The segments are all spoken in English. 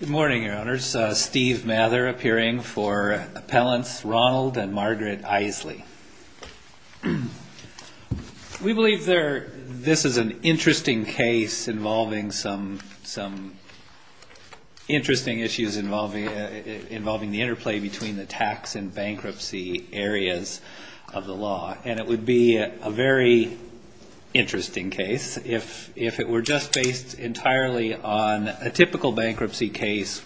Good morning, your honors. Steve Mather appearing for Appellants Ronald and Margaret Isley. We believe this is an interesting case involving some interesting issues involving the interplay between the tax and bankruptcy areas of the law. And it would be a very interesting case if it were just based entirely on a typical bankruptcy case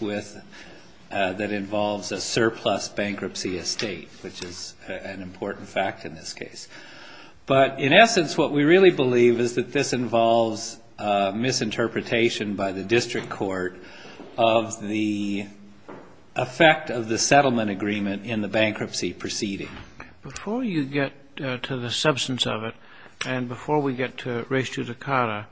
that involves a surplus bankruptcy estate, which is an important fact in this case. But in essence, what we really believe is that this involves misinterpretation by the district court of the effect of the settlement agreement in the bankruptcy proceeding. Before you get to the substance of it, and before we get to res judicata,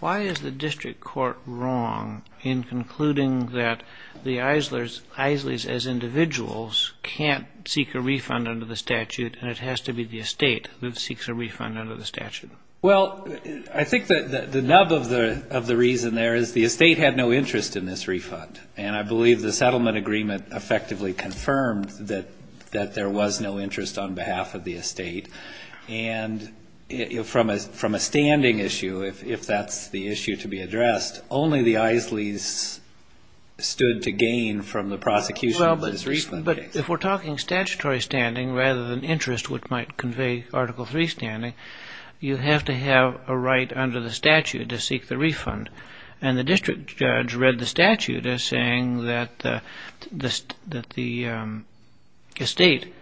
why is the district court wrong in concluding that the Isleys as individuals can't seek a refund under the statute and it has to be the estate that seeks a refund under the statute? Well, I think the nub of the reason there is the estate had no interest in this refund. And I believe the settlement agreement effectively confirmed that there was no interest on behalf of the estate. And from a standing issue, if that's the issue to be addressed, only the Isleys stood to gain from the prosecution of this refund case. But if we're talking statutory standing rather than interest, which might convey Article 3 standing, you have to have a right under the statute to seek the refund. And the district judge read the statute as that the estate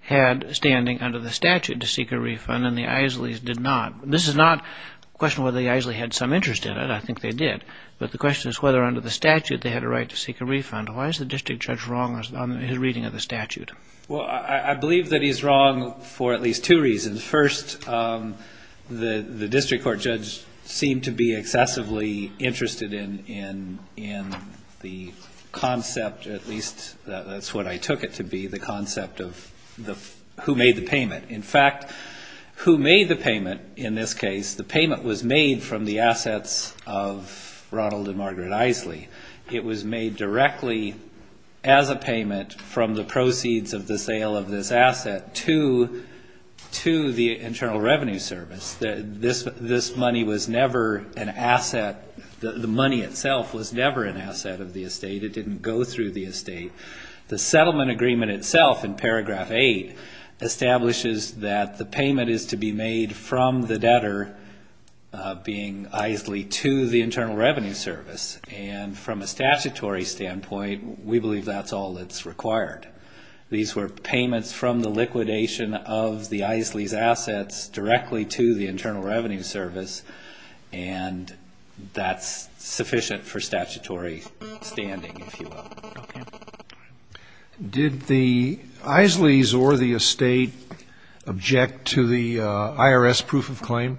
had standing under the statute to seek a refund and the Isleys did not. This is not a question whether the Isleys had some interest in it. I think they did. But the question is whether under the statute they had a right to seek a refund. Why is the district judge wrong on his reading of the statute? Well, I believe that he's wrong for at least two reasons. First, the district court judge seemed to be excessively interested in the concept, at least that's what I took it to be, the concept of who made the payment. In fact, who made the payment in this case, the payment was made from the assets of Ronald and Margaret Isley. It was made This money was never an asset. The money itself was never an asset of the estate. It didn't go through the estate. The settlement agreement itself in paragraph 8 establishes that the payment is to be made from the debtor, being Isley, to the Internal Revenue Service. And from a statutory standpoint, we believe that's all that's required. These were payments from the liquidation of the Isleys' assets directly to the Internal Revenue Service. And that's sufficient for statutory standing, if you will. Okay. Did the Isleys or the estate object to the IRS proof of claim?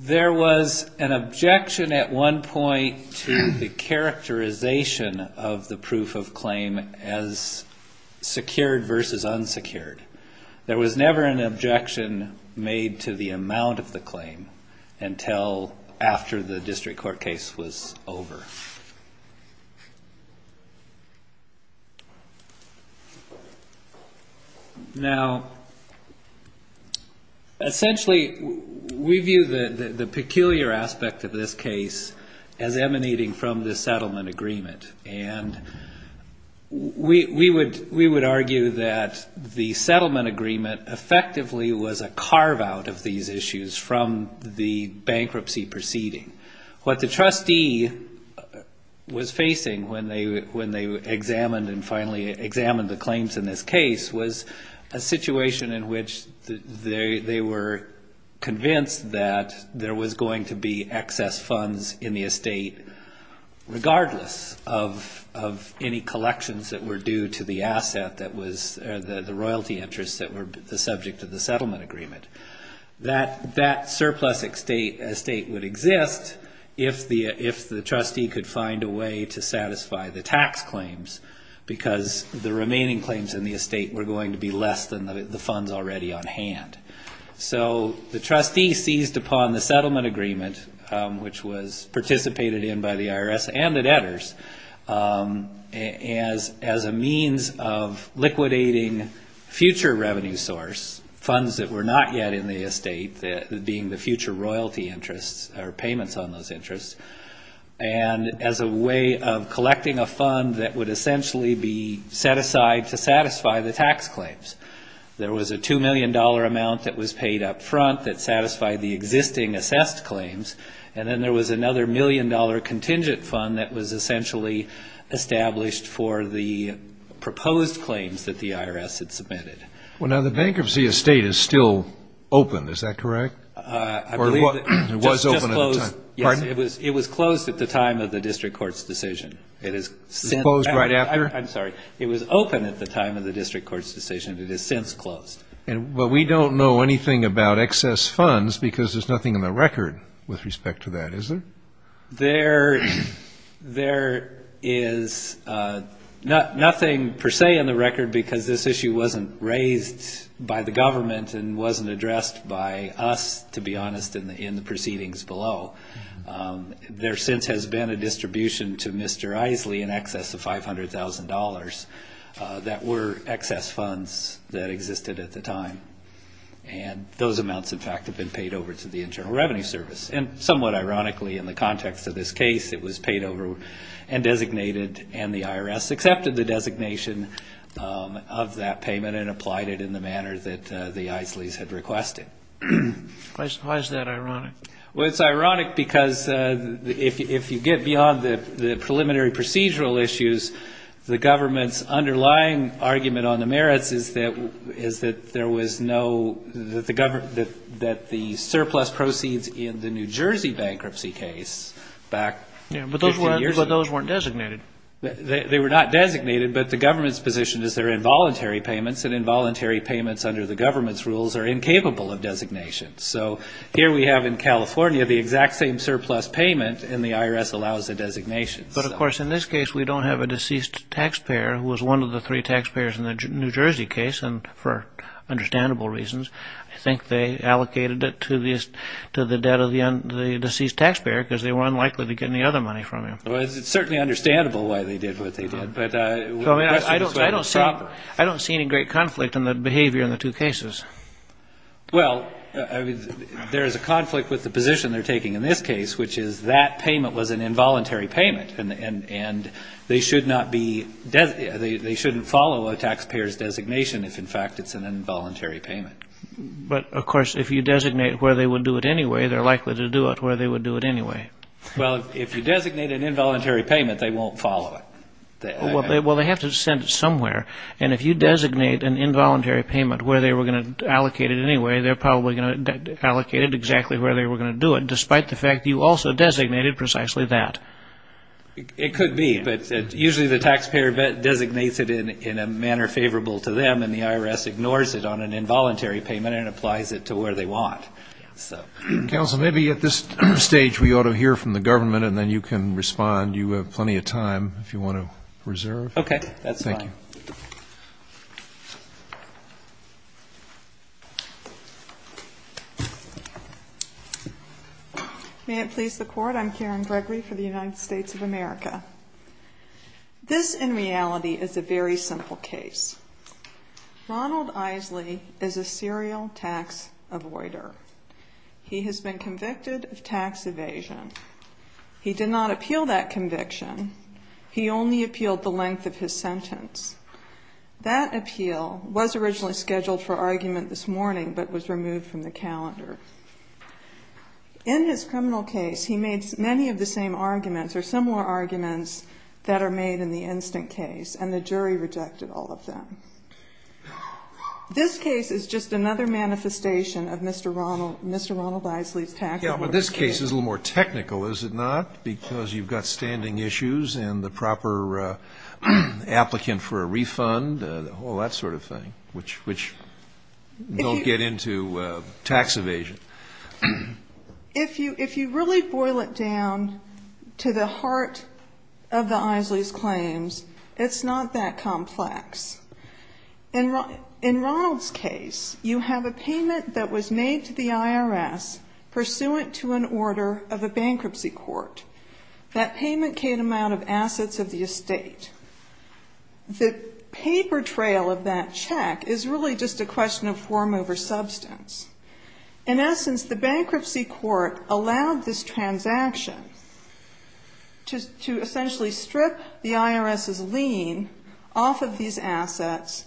There was an objection at one point to the characterization of the proof of claim as secured versus unsecured. There was never an objection made to the amount of the claim until after the district court case was over. Now, essentially, we view the peculiar aspect of this case as a carve out of these issues from the bankruptcy proceeding. What the trustee was facing when they examined and finally examined the claims in this case was a situation in which they were convinced that there was going to be excess funds in the estate, regardless of any collections that were due to the asset that was the royalty interest that were the subject of the settlement agreement. That surplus estate would exist if the trustee could find a way to satisfy the tax claims, because the remaining claims in the estate were going to be less than the funds already on hand. So the trustee seized upon the of liquidating future revenue source, funds that were not yet in the estate, being the future royalty interests or payments on those interests, and as a way of collecting a fund that would essentially be set aside to satisfy the tax claims. There was a $2 million amount that was paid up front that satisfied the claims that the IRS had submitted. Well, now, the bankruptcy estate is still open, is that correct? I believe that it was closed at the time of the district court's decision. It was open at the time of the district court's decision. It has since closed. But we don't know anything about excess funds, because there's nothing in the record with respect to that, is there? There is nothing per se in the record, because this issue wasn't raised by the government and wasn't addressed by us, to be honest, in the proceedings below. There since has been a distribution to Mr. Isley in excess of $500,000 that were excess funds that existed at the time. And those amounts, in fact, have been paid over to the Internal Revenue Service. And somewhat ironically, in the context of this case, it was paid over and designated and the IRS accepted the designation of that payment and applied it in the manner that the Isleys had requested. Why is that ironic? Well, it's ironic because if you get beyond the preliminary procedural issues, the government's underlying argument on the merits is that there was no surplus proceeds in the New Jersey bankruptcy case back 15 years ago. Yeah, but those weren't designated. They were not designated, but the government's position is that they're involuntary payments, and involuntary payments under the government's rules are incapable of designation. So here we have in California the exact same surplus payment, and the IRS allows the designation. But, of course, in this case, we don't have a deceased taxpayer who was one of the three taxpayers in the New Jersey case, and for understandable reasons, I think they allocated it to the debt of the deceased taxpayer because they were unlikely to get any other money from him. Well, it's certainly understandable why they did what they did. I don't see any great conflict in the behavior in the two cases. Well, there is a conflict with the position they're taking in this case, which is that payment was an involuntary payment, and they shouldn't follow a taxpayer's designation if, in fact, it's an involuntary payment. But, of course, if you designate where they would do it anyway, they're likely to do it where they would do it anyway. Well, if you designate an involuntary payment, they won't follow it. Well, they have to send it somewhere, and if you designate an involuntary payment where they were going to allocate it anyway, they're probably going to allocate it exactly where they were going to do it, despite the fact you also designated precisely that. It could be, but usually the taxpayer designates it in a manner favorable to them, and the IRS ignores it on an involuntary payment and applies it to where they want. Counsel, maybe at this stage we ought to hear from the government, and then you can respond. You have plenty of time, if you want to reserve. Okay. That's fine. Thank you. May it please the Court, I'm Karen Gregory for the United States of America. This, in reality, is a very simple case. Ronald Isley is a serial tax avoider. He has been convicted of tax evasion. He did not appeal that conviction. He only appealed the length of his sentence. That appeal was originally scheduled for argument this morning, but was removed from the calendar. In his criminal case, he made many of the same arguments or similar arguments that are made in the instant case, and the jury rejected all of them. This case is just another manifestation of Mr. Ronald Isley's tax avoidance case. Yeah, but this case is a little more technical, is it not, because you've got standing issues and the proper applicant for a refund, all that sort of thing, which don't get into tax evasion. If you really boil it down to the heart of the Isley's claims, it's not that complex. In Ronald's case, you have a payment that was made to the IRS pursuant to an order of a bankruptcy court. That payment came out of assets of the estate. The paper trail of that check is really just a question of form over substance. In essence, the bankruptcy court allowed this transaction to essentially strip the IRS's lien off of these assets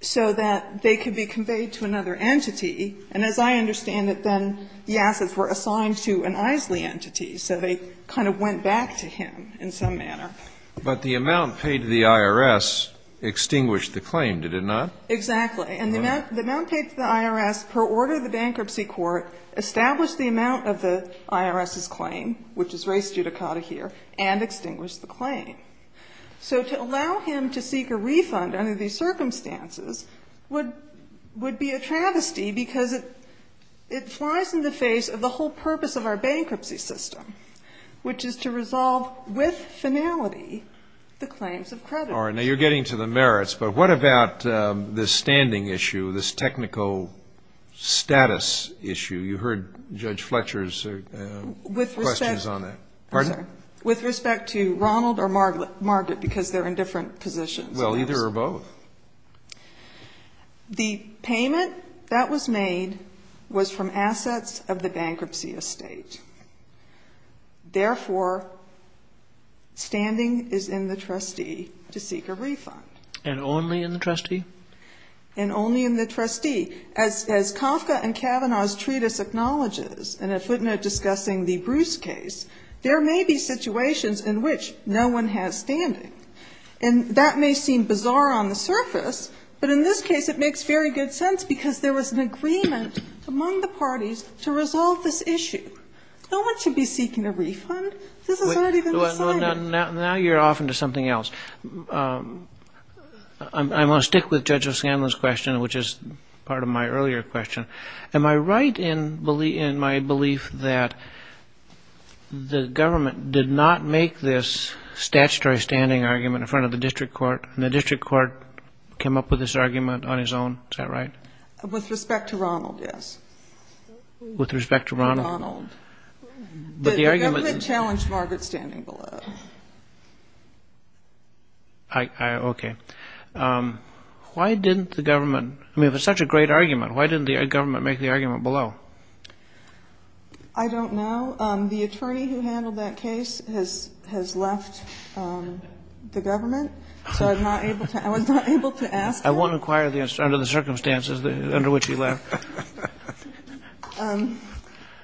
so that they could be conveyed to another entity, and as I understand it, then the assets were assigned to an Isley entity, so they kind of went back to him in some manner. But the amount paid to the IRS extinguished the claim, did it not? Exactly. And the amount paid to the IRS per order of the bankruptcy court established the amount of the IRS's claim, which is raised judicata here, and extinguished the claim. So to allow him to seek a refund under these circumstances would be a travesty, because it flies in the face of the whole purpose of our bankruptcy system, which is to resolve with finality the claims of creditors. All right. Now, you're getting to the merits, but what about this standing issue, this technical status issue? You heard Judge Fletcher's questions on that. With respect to Ronald or Margaret, because they're in different positions. Well, either or both. The payment that was made was from assets of the bankruptcy estate. Therefore, standing is in the trustee to seek a refund. And only in the trustee? And only in the trustee. As Kafka and Kavanaugh's treatise acknowledges, and a footnote discussing the Bruce case, there may be situations in which no one has standing. And that may seem bizarre on the surface, but in this case, it makes very good sense, because there was an agreement among the parties to resolve this issue. No one should be seeking a refund. This is not even decided. Now you're off into something else. I want to stick with Judge O'Scanlan's question, which is part of my earlier question. Am I right in my belief that the government did not make this statutory standing argument in front of the district court, and the district court came up with this argument on its own? Is that right? With respect to Ronald, yes. With respect to Ronald? Ronald. The government challenged Margaret standing below. Okay. Why didn't the government? I mean, if it's such a great argument, why didn't the government make the argument below? I don't know. The attorney who handled that case has left the government, so I'm not able to ask that. I won't inquire under the circumstances under which he left.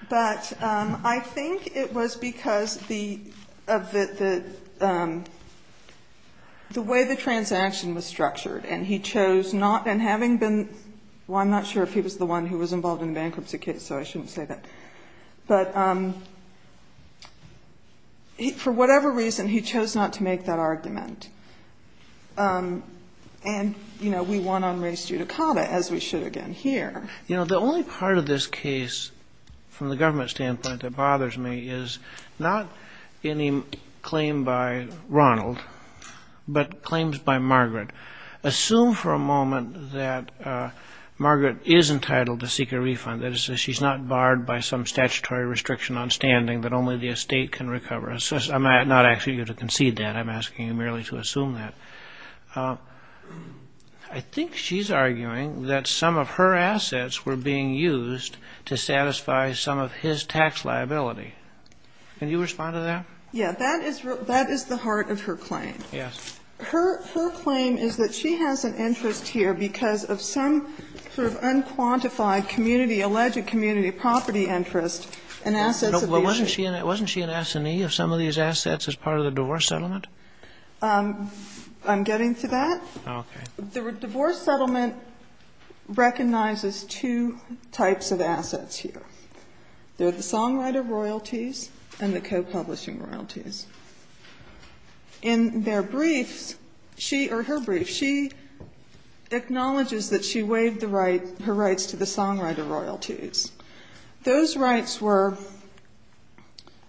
But I think it was because of the way the transaction was structured, and he chose not, and having been, well, I'm not sure if he was the one who was involved in the bankruptcy case, so I shouldn't say that. But for whatever reason, he chose not to make that argument. And, you know, we won on race judicata, as we should again here. You know, the only part of this case, from the government standpoint, that bothers me is not any claim by Ronald, but claims by Margaret. Assume for a moment that Margaret is entitled to seek a refund, that is to say she's not barred by some statutory restriction on standing that only the estate can recover. I'm not asking you to concede that. I'm asking you merely to assume that. I think she's arguing that some of her assets were being used to satisfy some of his tax liability. Can you respond to that? Yeah. That is the heart of her claim. Yes. Her claim is that she has an interest here because of some sort of unquantified community, alleged community property interest in assets of the estate. Wasn't she an assinee of some of these assets as part of the divorce settlement? I'm getting to that. Okay. The divorce settlement recognizes two types of assets here. They're the songwriter royalties and the co-publishing royalties. In their briefs, she or her brief, she acknowledges that she waived the rights, her rights to the songwriter royalties. Those rights were,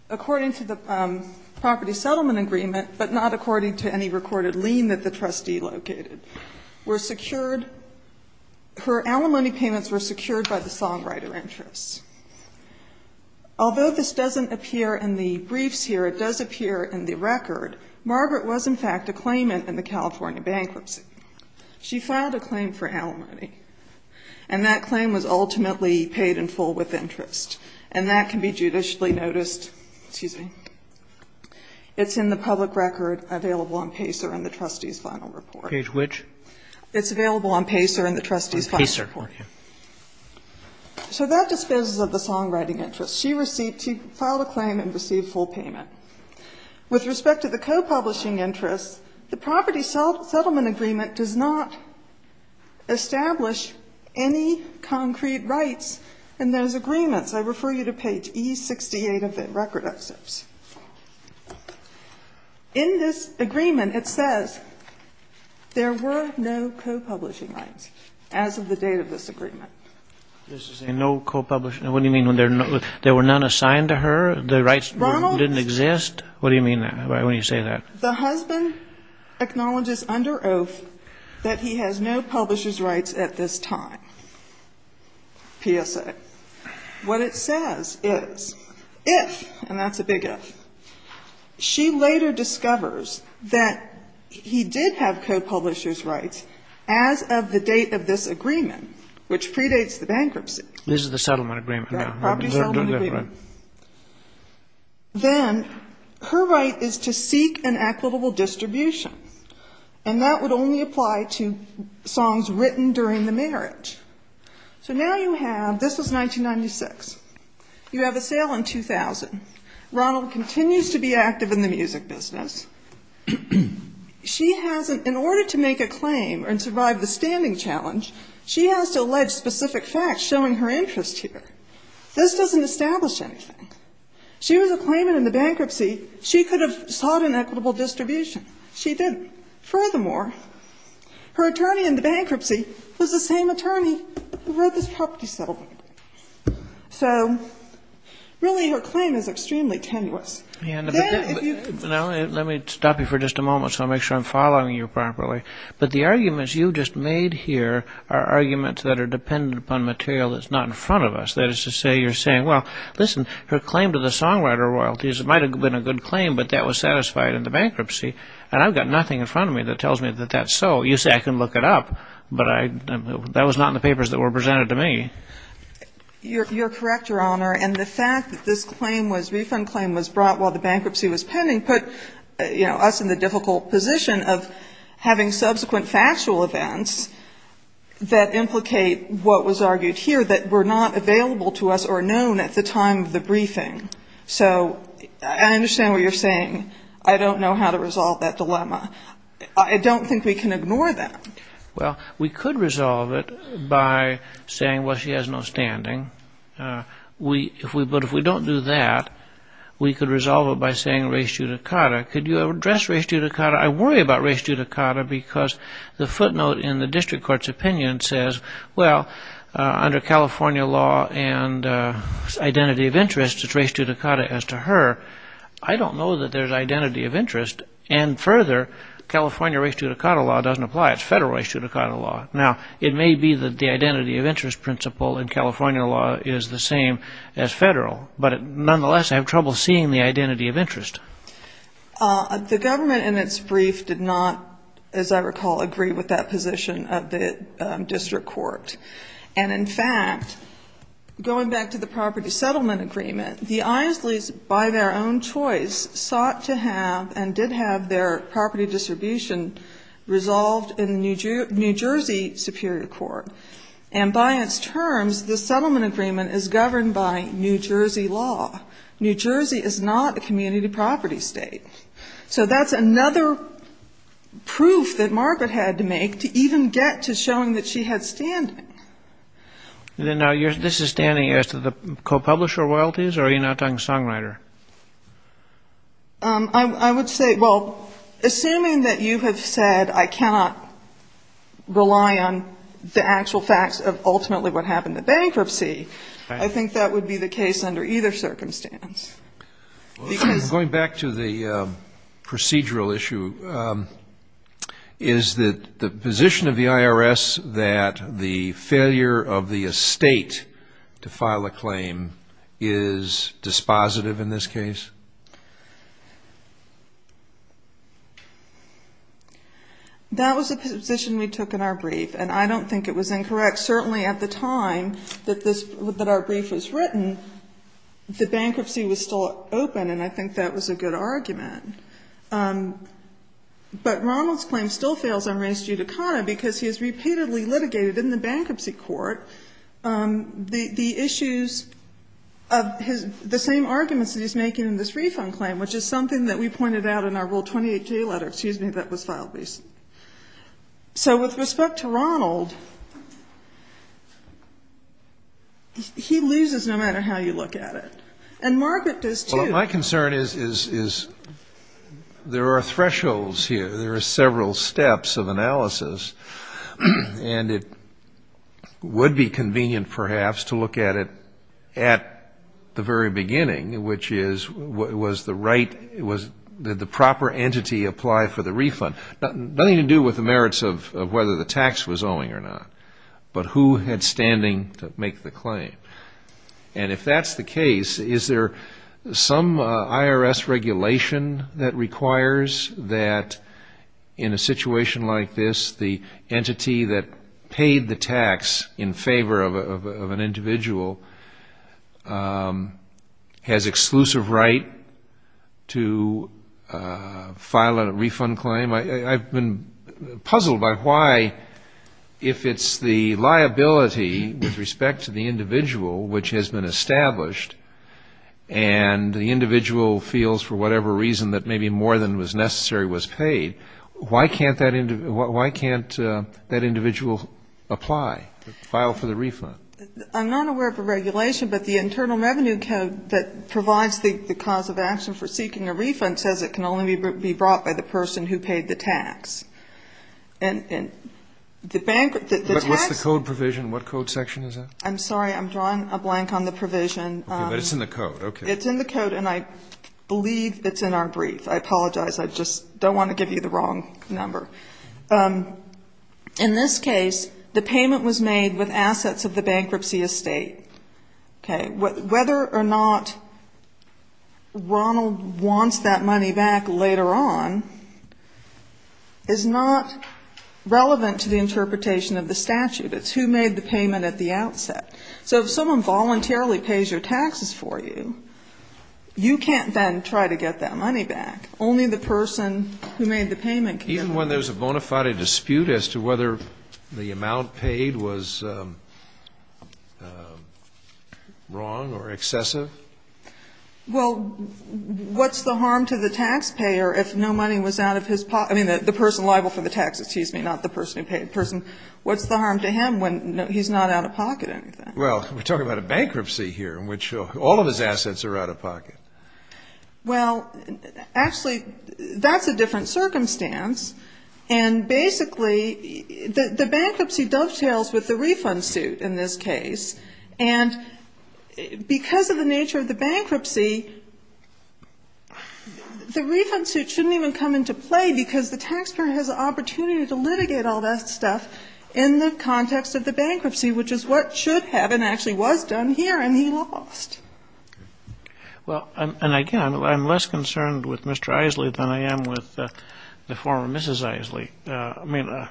according to the property settlement agreement, but not according to any recorded lien that the trustee located, were secured. Her alimony payments were secured by the songwriter interests. Although this doesn't appear in the briefs here, it does appear in the record. Margaret was, in fact, a claimant in the California bankruptcy. She filed a claim for alimony. And that claim was ultimately paid in full with interest. And that can be judicially noticed. Excuse me. It's in the public record available on PACER in the trustee's final report. Page which? It's available on PACER in the trustee's final report. On PACER. Okay. So that disposes of the songwriting interest. She received, she filed a claim and received full payment. With respect to the co-publishing interests, the property settlement agreement does not establish any concrete rights in those agreements. I refer you to page E68 of the record excerpts. In this agreement, it says there were no co-publishing rights as of the date of this agreement. No co-publishing, what do you mean? There were none assigned to her? The rights didn't exist? What do you mean when you say that? The husband acknowledges under oath that he has no publisher's rights at this time, PSA. What it says is if, and that's a big if, she later discovers that he did have co-publishers' rights as of the date of this agreement, which predates the bankruptcy. This is the settlement agreement. The property settlement agreement. Then her right is to seek an equitable distribution. And that would only apply to songs written during the marriage. So now you have, this was 1996. You have a sale in 2000. Ronald continues to be active in the music business. She has, in order to make a claim and survive the standing challenge, she has to allege specific facts showing her interest here. This doesn't establish anything. She was a claimant in the bankruptcy. She could have sought an equitable distribution. She didn't. Furthermore, her attorney in the bankruptcy was the same attorney who wrote this property settlement. So really her claim is extremely tenuous. Then if you could... Now, let me stop you for just a moment, so I'll make sure I'm following you properly. But the arguments you just made here are arguments that are dependent upon material that's not in front of us. That is to say, you're saying, well, listen, her claim to the songwriter royalties, it might have been a good claim, but that was satisfied in the bankruptcy. And I've got nothing in front of me that tells me that that's so. You say I can look it up, but that was not in the papers that were presented to me. You're correct, Your Honor. And the fact that this claim was, refund claim, was brought while the bankruptcy was pending put us in the difficult position of having subsequent factual events that implicate what was argued here that were not available to us or known at the time of the briefing. So I understand what you're saying. I don't know how to resolve that dilemma. I don't think we can ignore that. Well, we could resolve it by saying, well, she has no standing. But if we don't do that, we could resolve it by saying res judicata. Could you address res judicata? I worry about res judicata because the footnote in the district court's opinion says, well, under California law and identity of interest, it's res judicata as to her. I don't know that there's identity of interest. And further, California res judicata law doesn't apply. It's federal res judicata law. Now, it may be that the identity of interest principle in California law is the same as federal. But nonetheless, I have trouble seeing the identity of interest. The government in its brief did not, as I recall, agree with that position of the district court. And in fact, going back to the property settlement agreement, the Isleys, by their own choice, sought to have and did have their property distribution resolved in the New Jersey Superior Court. And by its terms, the settlement agreement is governed by New Jersey law. New Jersey is not a community property state. So that's another proof that Margaret had to make to even get to showing that she had standing. Then now, this is standing as to the co-publisher royalties, or are you now talking songwriter? I would say, well, assuming that you have said I cannot rely on the actual facts of ultimately what happened to bankruptcy, I think that would be the case under either circumstance. Going back to the procedural issue, is the position of the IRS that the failure of the estate to file a claim is dispositive in this case? That was a position we took in our brief, and I don't think it was incorrect. Certainly at the time that this, that our brief was written, the bankruptcy was still open, and I think that was a good argument. But Ronald's claim still fails on race due to Cana, because he has repeatedly litigated in the bankruptcy court the issues of his, the same arguments that he's making in this refund claim, which is something that we pointed out in our Rule 28J letter, excuse me, that was filed recently. So with respect to Ronald, he loses no matter how you look at it. And Margaret does, too. Well, my concern is there are thresholds here. There are several steps of analysis, and it would be convenient, perhaps, to look at it at the very beginning, which is, was the right, did the proper entity apply for the refund? Nothing to do with the merits of whether the tax was owing or not, but who had standing to make the claim. And if that's the case, is there some IRS regulation that requires that in a situation like this, the entity that paid the tax in favor of an individual has exclusive right to file a refund claim? I've been puzzled by why, if it's the liability with respect to the individual which has been established, and the individual feels for whatever reason that maybe more than was necessary was paid, why can't that individual apply, file for the refund? I'm not aware of a regulation, but the Internal Revenue Code that provides the cause of action for seeking a refund says it can only be brought by the person who paid the tax. And the tax What's the code provision? What code section is that? I'm sorry. I'm drawing a blank on the provision. But it's in the code. Okay. It's in the code, and I believe it's in our brief. I apologize. I just don't want to give you the wrong number. In this case, the payment was made with assets of the bankruptcy estate. Okay. Whether or not Ronald wants that money back later on is not relevant to the interpretation of the statute. So if someone voluntarily pays your taxes for you, you can't then try to get that money back. Only the person who made the payment can get it back. Even when there's a bona fide dispute as to whether the amount paid was wrong or excessive? Well, what's the harm to the taxpayer if no money was out of his pocket? I mean, the person liable for the tax, excuse me, not the person who paid. What's the harm to him when he's not out of pocket or anything? Well, we're talking about a bankruptcy here in which all of his assets are out of pocket. Well, actually, that's a different circumstance. And basically, the bankruptcy dovetails with the refund suit in this case. And because of the nature of the bankruptcy, the refund suit shouldn't even come into play because the taxpayer has an opportunity to litigate all that stuff in the context of the bankruptcy, which is what should have and actually was done here, and he lost. Well, and again, I'm less concerned with Mr. Isley than I am with the former Mrs. Isley. I mean,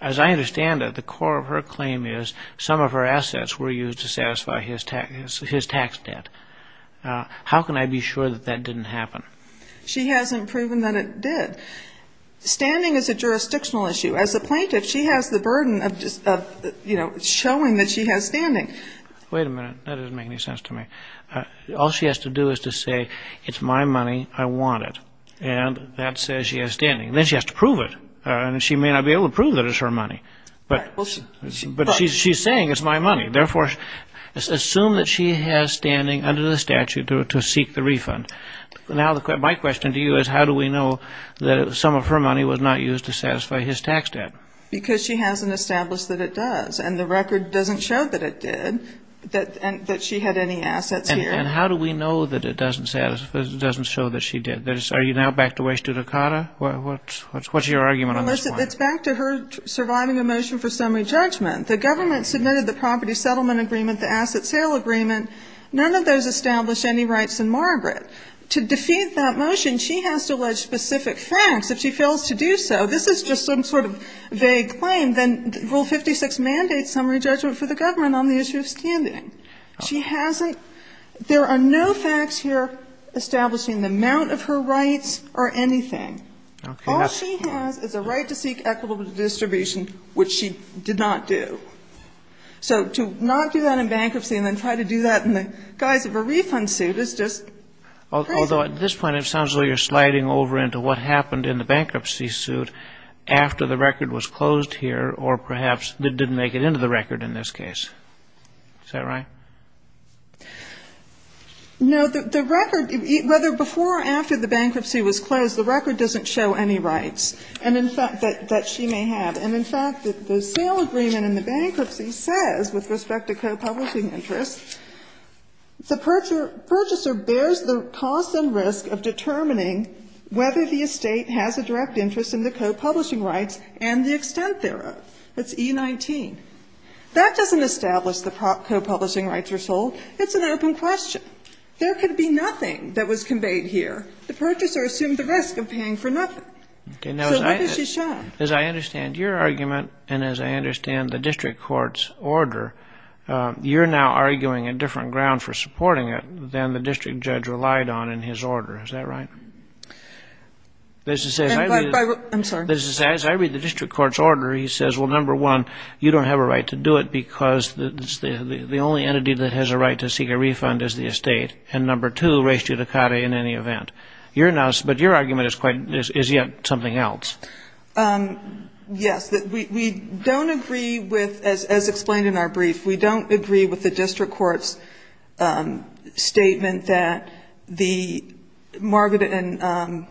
as I understand it, the core of her claim is some of her assets were used to satisfy his tax debt. How can I be sure that that didn't happen? She hasn't proven that it did. Standing is a jurisdictional issue. As a plaintiff, she has the burden of showing that she has standing. Wait a minute. That doesn't make any sense to me. All she has to do is to say, it's my money, I want it. And that says she has standing. Then she has to prove it. And she may not be able to prove that it's her money. But she's saying it's my money. Therefore, assume that she has standing under the statute to seek the refund. Now, my question to you is, how do we know that some of her money was not used to satisfy his tax debt? Because she hasn't established that it does. And the record doesn't show that it did, that she had any assets here. And how do we know that it doesn't show that she did? Are you now back to way studicata? What's your argument on this point? Well, listen, it's back to her surviving a motion for summary judgment. The government submitted the property settlement agreement, the asset sale agreement. None of those established any rights in Margaret. To defeat that motion, she has to allege specific facts. If she fails to do so, this is just some sort of vague claim. Then Rule 56 mandates summary judgment for the government on the issue of standing. She hasn't. There are no facts here establishing the amount of her rights or anything. All she has is a right to seek equitable distribution, which she did not do. So to not do that in bankruptcy and then try to do that in the guise of a refund suit is just crazy. Although at this point it sounds like you're sliding over into what happened in the bankruptcy suit after the record was closed here or perhaps didn't make it into the record in this case. Is that right? No. The record, whether before or after the bankruptcy was closed, the record doesn't show any rights. And in fact, that she may have. And in fact, the sale agreement in the bankruptcy says, with respect to co-publishing interests, the purchaser bears the cost and risk of determining whether the estate has a direct interest in the co-publishing rights and the extent thereof. That's E19. That doesn't establish the co-publishing rights are sold. It's an open question. There could be nothing that was conveyed here. The purchaser assumed the risk of paying for nothing. So what has she shown? As I understand your argument and as I understand the district court's order, you're now arguing a different ground for supporting it than the district judge relied on in his order. Is that right? I'm sorry. As I read the district court's order, he says, well, number one, you don't have a right to do it because the only entity that has a right to seek a refund is the estate. And number two, res judicata in any event. But your argument is yet something else. Yes. We don't agree with, as explained in our brief, we don't agree with the district court's statement that Margaret and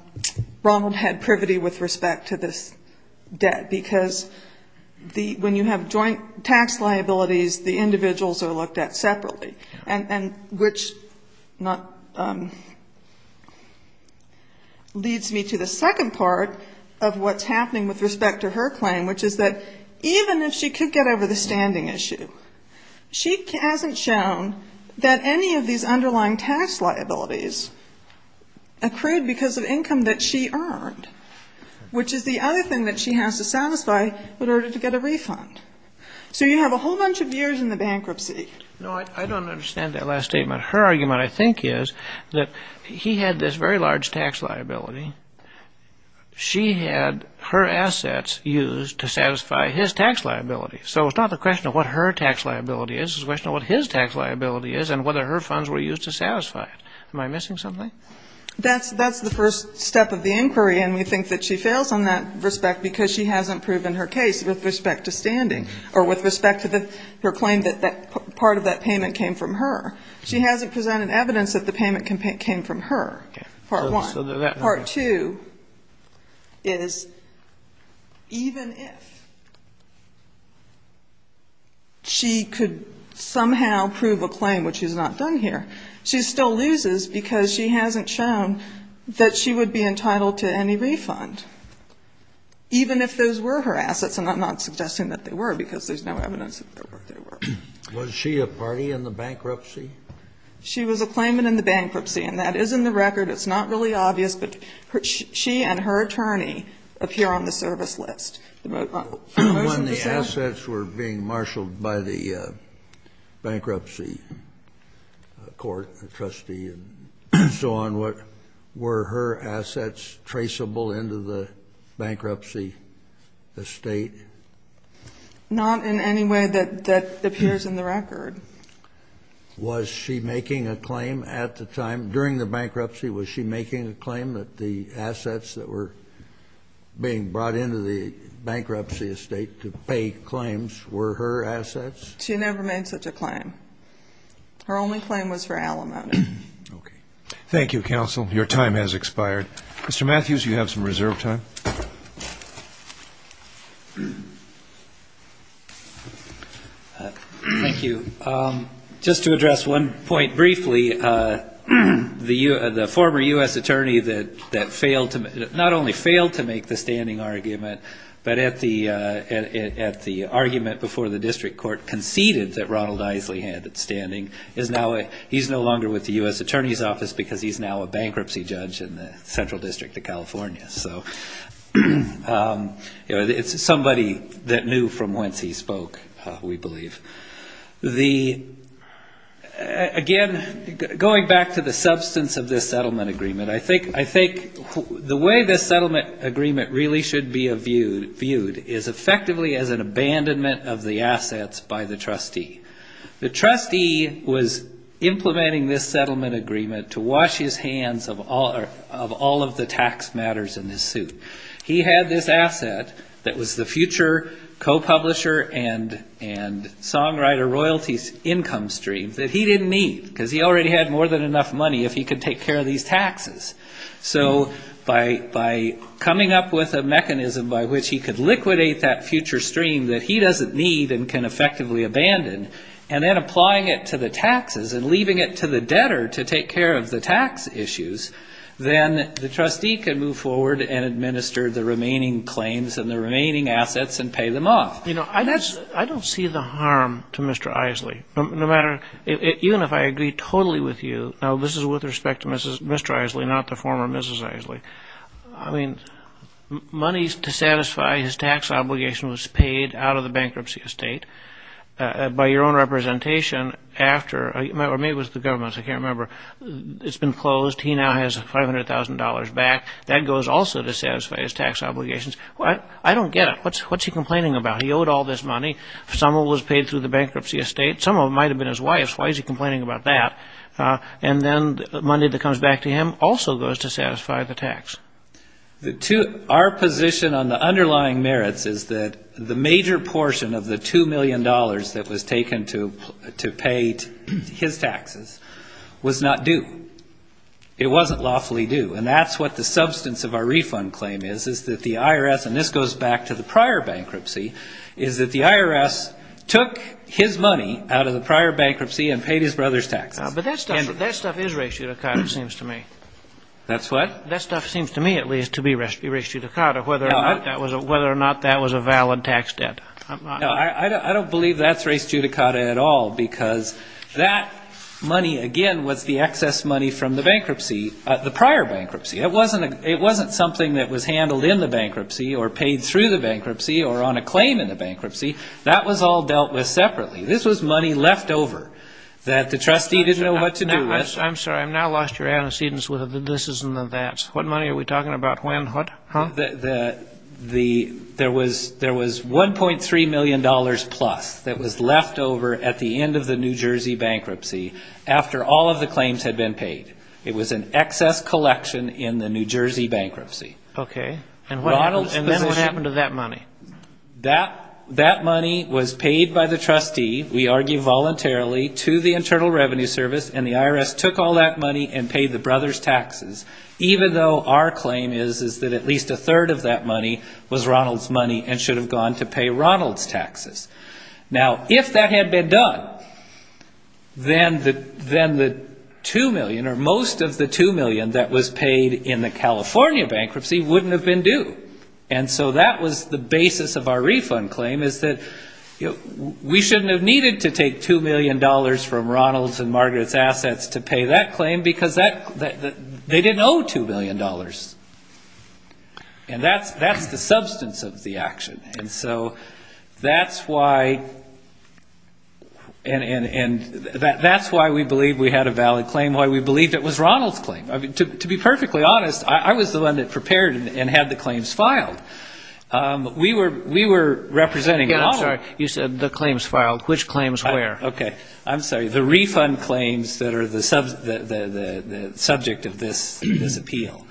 Ronald had privity with respect to this debt. Because when you have joint tax liabilities, the individuals are looked at separately. And which leads me to the second part of what's happening with respect to her claim, which is that even if she could get over the standing issue, she hasn't shown that any of these underlying tax liabilities accrued because of income that she earned, which is the other thing that she has to satisfy in order to get a refund. So you have a whole bunch of years in the bankruptcy. No, I don't understand that last statement. Her argument, I think, is that he had this very large tax liability. She had her assets used to satisfy his tax liability. So it's not the question of what her tax liability is. It's the question of what his tax liability is and whether her funds were used to satisfy it. Am I missing something? That's the first step of the inquiry. And we think that she fails on that respect because she hasn't proven her case with respect to standing or with respect to her claim that part of that payment came from her. She hasn't presented evidence that the payment came from her, part one. Part two is even if she could somehow prove a claim, which is not done here, she still loses because she hasn't shown that she would be entitled to any refund, even if those were her assets. And I'm not suggesting that they were because there's no evidence that they were. Was she a party in the bankruptcy? She was a claimant in the bankruptcy. And that is in the record. It's not really obvious. But she and her attorney appear on the service list. When the assets were being marshaled by the bankruptcy court, the trustee and so on, were her assets traceable into the bankruptcy estate? Not in any way that appears in the record. Was she making a claim at the time? During the bankruptcy, was she making a claim that the assets that were being brought into the bankruptcy estate to pay claims were her assets? She never made such a claim. Her only claim was for alimony. Thank you, counsel. Your time has expired. Mr. Matthews, you have some reserve time. Thank you. Just to address one point briefly, the former U.S. attorney that not only failed to make the standing argument, but at the argument before the district court conceded that Ronald Isley had standing, he's no longer with the U.S. attorney's office because he's now a bankruptcy judge in the central district of California. It's somebody that knew from whence he spoke, we believe. Again, going back to the substance of this settlement agreement, I think the way this settlement agreement really should be viewed is effectively as an abandonment of the assets by the trustee. The trustee was implementing this settlement agreement to wash his hands of all of the tax matters in his suit. He had this asset that was the future co-publisher and songwriter royalties income stream that he didn't need because he already had more than enough money if he could take care of these taxes. So by coming up with a mechanism by which he could liquidate that future stream that he doesn't need and can effectively abandon, and then applying it to the taxes and leaving it to the debtor to take care of the tax issues, then the trustee can move forward and administer the remaining claims and the remaining assets and pay them off. You know, I don't see the harm to Mr. Isley, no matter, even if I agree totally with you. Now, this is with respect to Mr. Isley, not the former Mrs. Isley. I mean, money to satisfy his tax obligation was paid out of the bankruptcy estate by your own representation after, or maybe it was the government, I can't remember. It's been closed. He now has $500,000 back. That goes also to satisfy his tax obligations. I don't get it. What's he complaining about? He owed all this money. Some of it was paid through the bankruptcy estate. Some of it might have been his wife's. Why is he complaining about that? And then the money that comes back to him also goes to satisfy the tax. Our position on the underlying merits is that the major portion of the $2 million that was taken to pay his taxes was not due. It wasn't lawfully due. And that's what the substance of our refund claim is, is that the IRS, and this goes back to the prior bankruptcy, is that the IRS took his money out of the prior bankruptcy and paid his brother's taxes. That stuff is res judicata, it seems to me. That's what? That stuff seems to me, at least, to be res judicata, whether or not that was a valid tax debt. I don't believe that's res judicata at all because that money, again, was the excess money from the bankruptcy, the prior bankruptcy. It wasn't something that was handled in the bankruptcy or paid through the bankruptcy or on a claim in the bankruptcy. That was all dealt with separately. This was money left over that the trustee didn't know what to do with. I'm sorry. I've now lost your antecedents with the this's and the that's. What money are we talking about? When? What? There was $1.3 million plus that was left over at the end of the New Jersey bankruptcy after all of the claims had been paid. It was an excess collection in the New Jersey bankruptcy. Okay. And then what happened to that money? That money was paid by the trustee, we argue voluntarily, to the Internal Revenue Service, and the IRS took all that money and paid the brothers' taxes, even though our claim is that at least a third of that money was Ronald's money and should have gone to pay Ronald's taxes. Now, if that had been done, then the $2 million or most of the $2 million that was paid in the California bankruptcy wouldn't have been due. And so that was the basis of our refund claim is that we shouldn't have needed to take $2 million from Ronald's and Margaret's assets to pay that claim because they didn't owe $2 million. And that's the substance of the action. And so that's why we believe we had a valid claim, why we believed it was Ronald's claim. To be perfectly honest, I was the one that prepared and had the claims filed. We were representing Ronald. You said the claims filed. Which claims where? Okay. I'm sorry. The refund claims that are the subject of this appeal.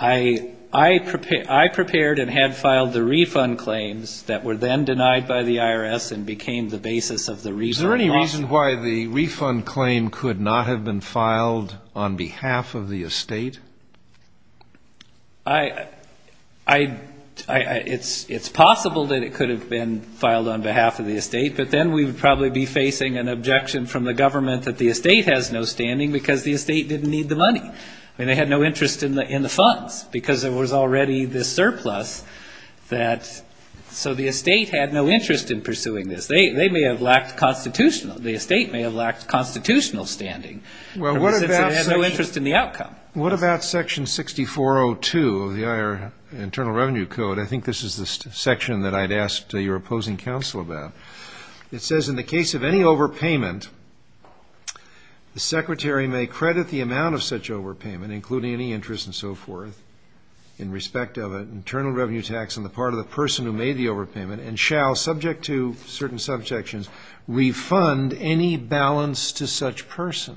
I prepared and had filed the refund claims that were then denied by the IRS and became the basis of the refund. Is there any reason why the refund claim could not have been filed on behalf of the estate? It's possible that it could have been filed on behalf of the estate. But then we would probably be facing an objection from the government that the estate has no standing because the estate didn't need the money. I mean, they had no interest in the funds because there was already this surplus. So the estate had no interest in pursuing this. They may have lacked constitutional. The estate may have lacked constitutional standing because it had no interest in the outcome. What about Section 6402 of the Internal Revenue Code? I think this is the section that I'd asked your opposing counsel about. It says, in the case of any overpayment, the secretary may credit the amount of such overpayment, including any interest and so forth in respect of an internal revenue tax on the part of the person who made the overpayment, and shall, subject to certain subjections, refund any balance to such person.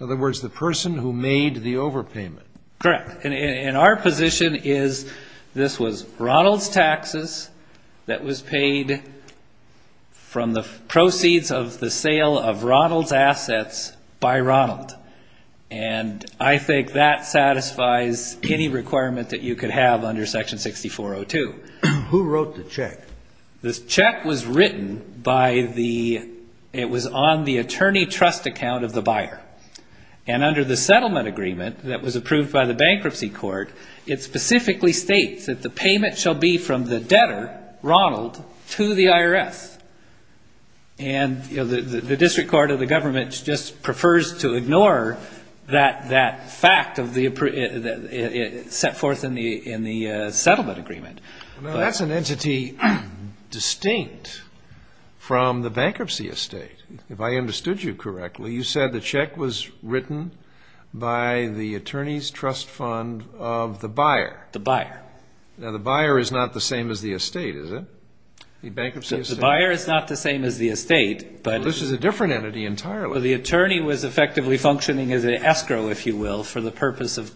In other words, the person who made the overpayment. Correct. And our position is this was Ronald's taxes that was paid from the proceeds of the sale of Ronald's assets by Ronald. And I think that satisfies any requirement that you could have under Section 6402. Who wrote the check? This check was written by the, it was on the attorney trust account of the buyer. And under the settlement agreement that was approved by the bankruptcy court, it specifically states that the payment shall be from the debtor, Ronald, to the IRS. And the district court of the government just prefers to ignore that fact set forth in the settlement agreement. Now, that's an entity distinct from the bankruptcy estate. If I understood you correctly, you said the check was written by the attorney's trust fund of the buyer. The buyer. Now, the buyer is not the same as the estate, is it? The bankruptcy estate. The buyer is not the same as the estate. But this is a different entity entirely. The attorney was effectively functioning as an escrow, if you will, for the purpose of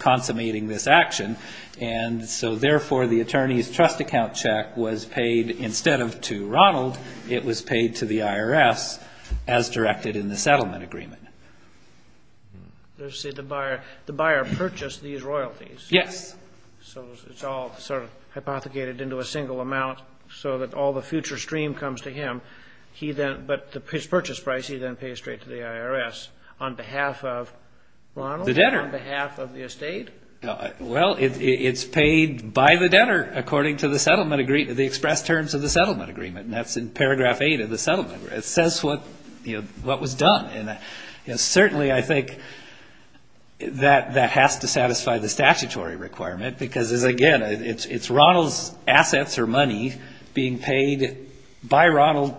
consummating this action. And so, therefore, the attorney's trust account check was paid instead of to Ronald, it was paid to the IRS as directed in the settlement agreement. Let's say the buyer purchased these royalties. Yes. So it's all sort of hypothecated into a single amount so that all the future stream comes to him. He then, but his purchase price, he then pays straight to the IRS on behalf of Ronald? The debtor. On behalf of the estate? Well, it's paid by the debtor according to the express terms of the settlement agreement. And that's in paragraph 8 of the settlement agreement. It says what was done. And certainly, I think, that has to satisfy the statutory requirement because, again, it's Ronald's assets or money being paid by Ronald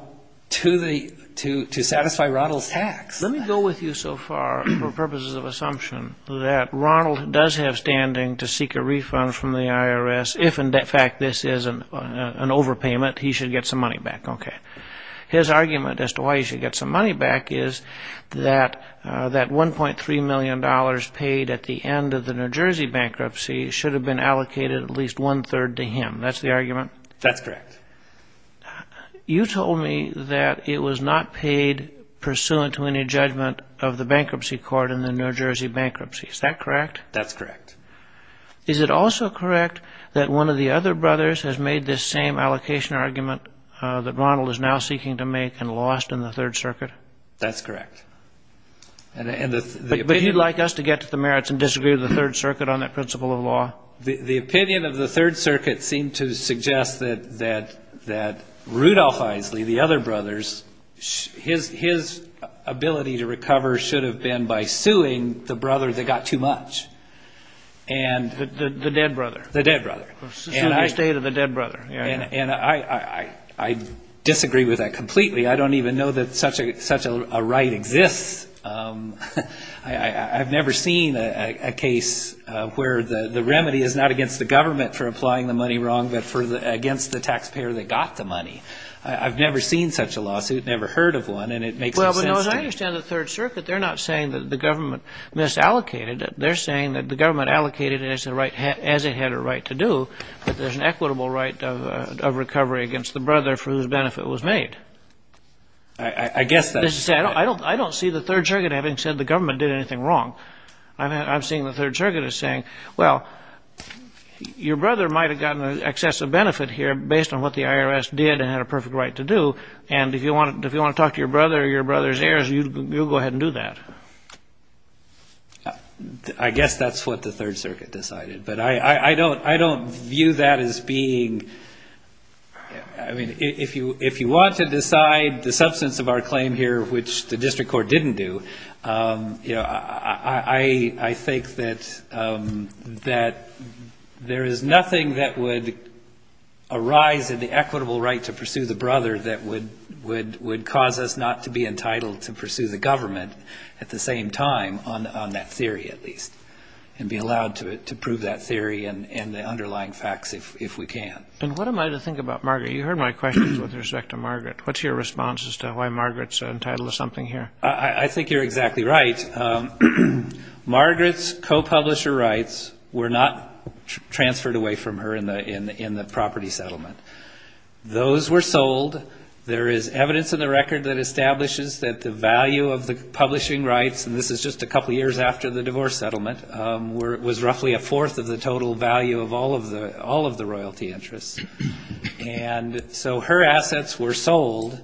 to satisfy Ronald's tax. Let me go with you so far for purposes of assumption that Ronald does have standing to seek a refund from the IRS if in fact this is an overpayment, he should get some money back. Okay. His argument as to why he should get some money back is that that $1.3 million paid at the end of the New Jersey bankruptcy should have been allocated at least one-third to him. That's the argument? That's correct. You told me that it was not paid pursuant to any judgment of the bankruptcy court in the New Jersey bankruptcy. Is that correct? That's correct. Is it also correct that one of the other brothers has made this same allocation argument that Ronald is now seeking to make and lost in the Third Circuit? That's correct. But you'd like us to get to the merits and disagree with the Third Circuit on that principle of law? The opinion of the Third Circuit seemed to suggest that Rudolph Isley, the other brothers, his ability to recover should have been by suing the brother that got too much. The dead brother. The dead brother. Suing the state of the dead brother. I disagree with that completely. I don't even know that such a right exists. I've never seen a case where the remedy is not against the government for applying the money wrong but against the taxpayer that got the money. I've never seen such a lawsuit, never heard of one, and it makes no sense to me. Well, as I understand the Third Circuit, they're not saying that the government misallocated it. They're saying that the government allocated it as it had a right to do, but there's an equitable right of recovery against the brother for whose benefit it was made. I guess that's right. I don't see the Third Circuit having said the government did anything wrong. I'm seeing the Third Circuit as saying, well, your brother might have gotten excessive benefit here based on what the IRS did and had a perfect right to do, and if you want to talk to your brother or your brother's heirs, you'll go ahead and do that. I guess that's what the Third Circuit decided, but I don't view that as being... I don't want to decide the substance of our claim here, which the district court didn't do. I think that there is nothing that would arise in the equitable right to pursue the brother that would cause us not to be entitled to pursue the government at the same time, on that theory at least, and be allowed to prove that theory and the underlying facts if we can. And what am I to think about Margaret? You heard my questions with respect to Margaret. What's your response as to why Margaret's entitled to something here? I think you're exactly right. Margaret's co-publisher rights were not transferred away from her in the property settlement. Those were sold. There is evidence in the record that establishes that the value of the publishing rights, and this is just a couple years after the divorce settlement, was roughly a fourth of the total value of all of the royalty interests. And so her assets were sold,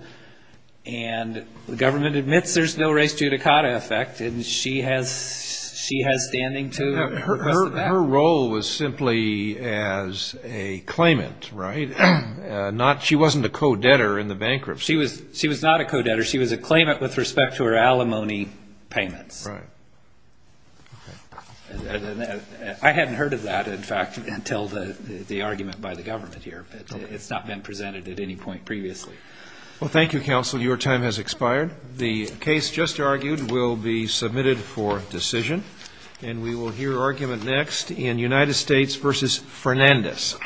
and the government admits there's no res judicata effect, and she has standing to... Her role was simply as a claimant, right? She wasn't a co-debtor in the bankruptcy. She was not a co-debtor. She was a claimant with respect to her alimony payments. Right. I hadn't heard of that, in fact, until the argument by the government here, but it's not been presented at any point previously. Well, thank you, counsel. Your time has expired. The case just argued will be submitted for decision, and we will hear argument next in United States v. Fernandez.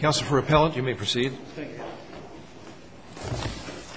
Counsel for appellate, you may proceed. Thank you.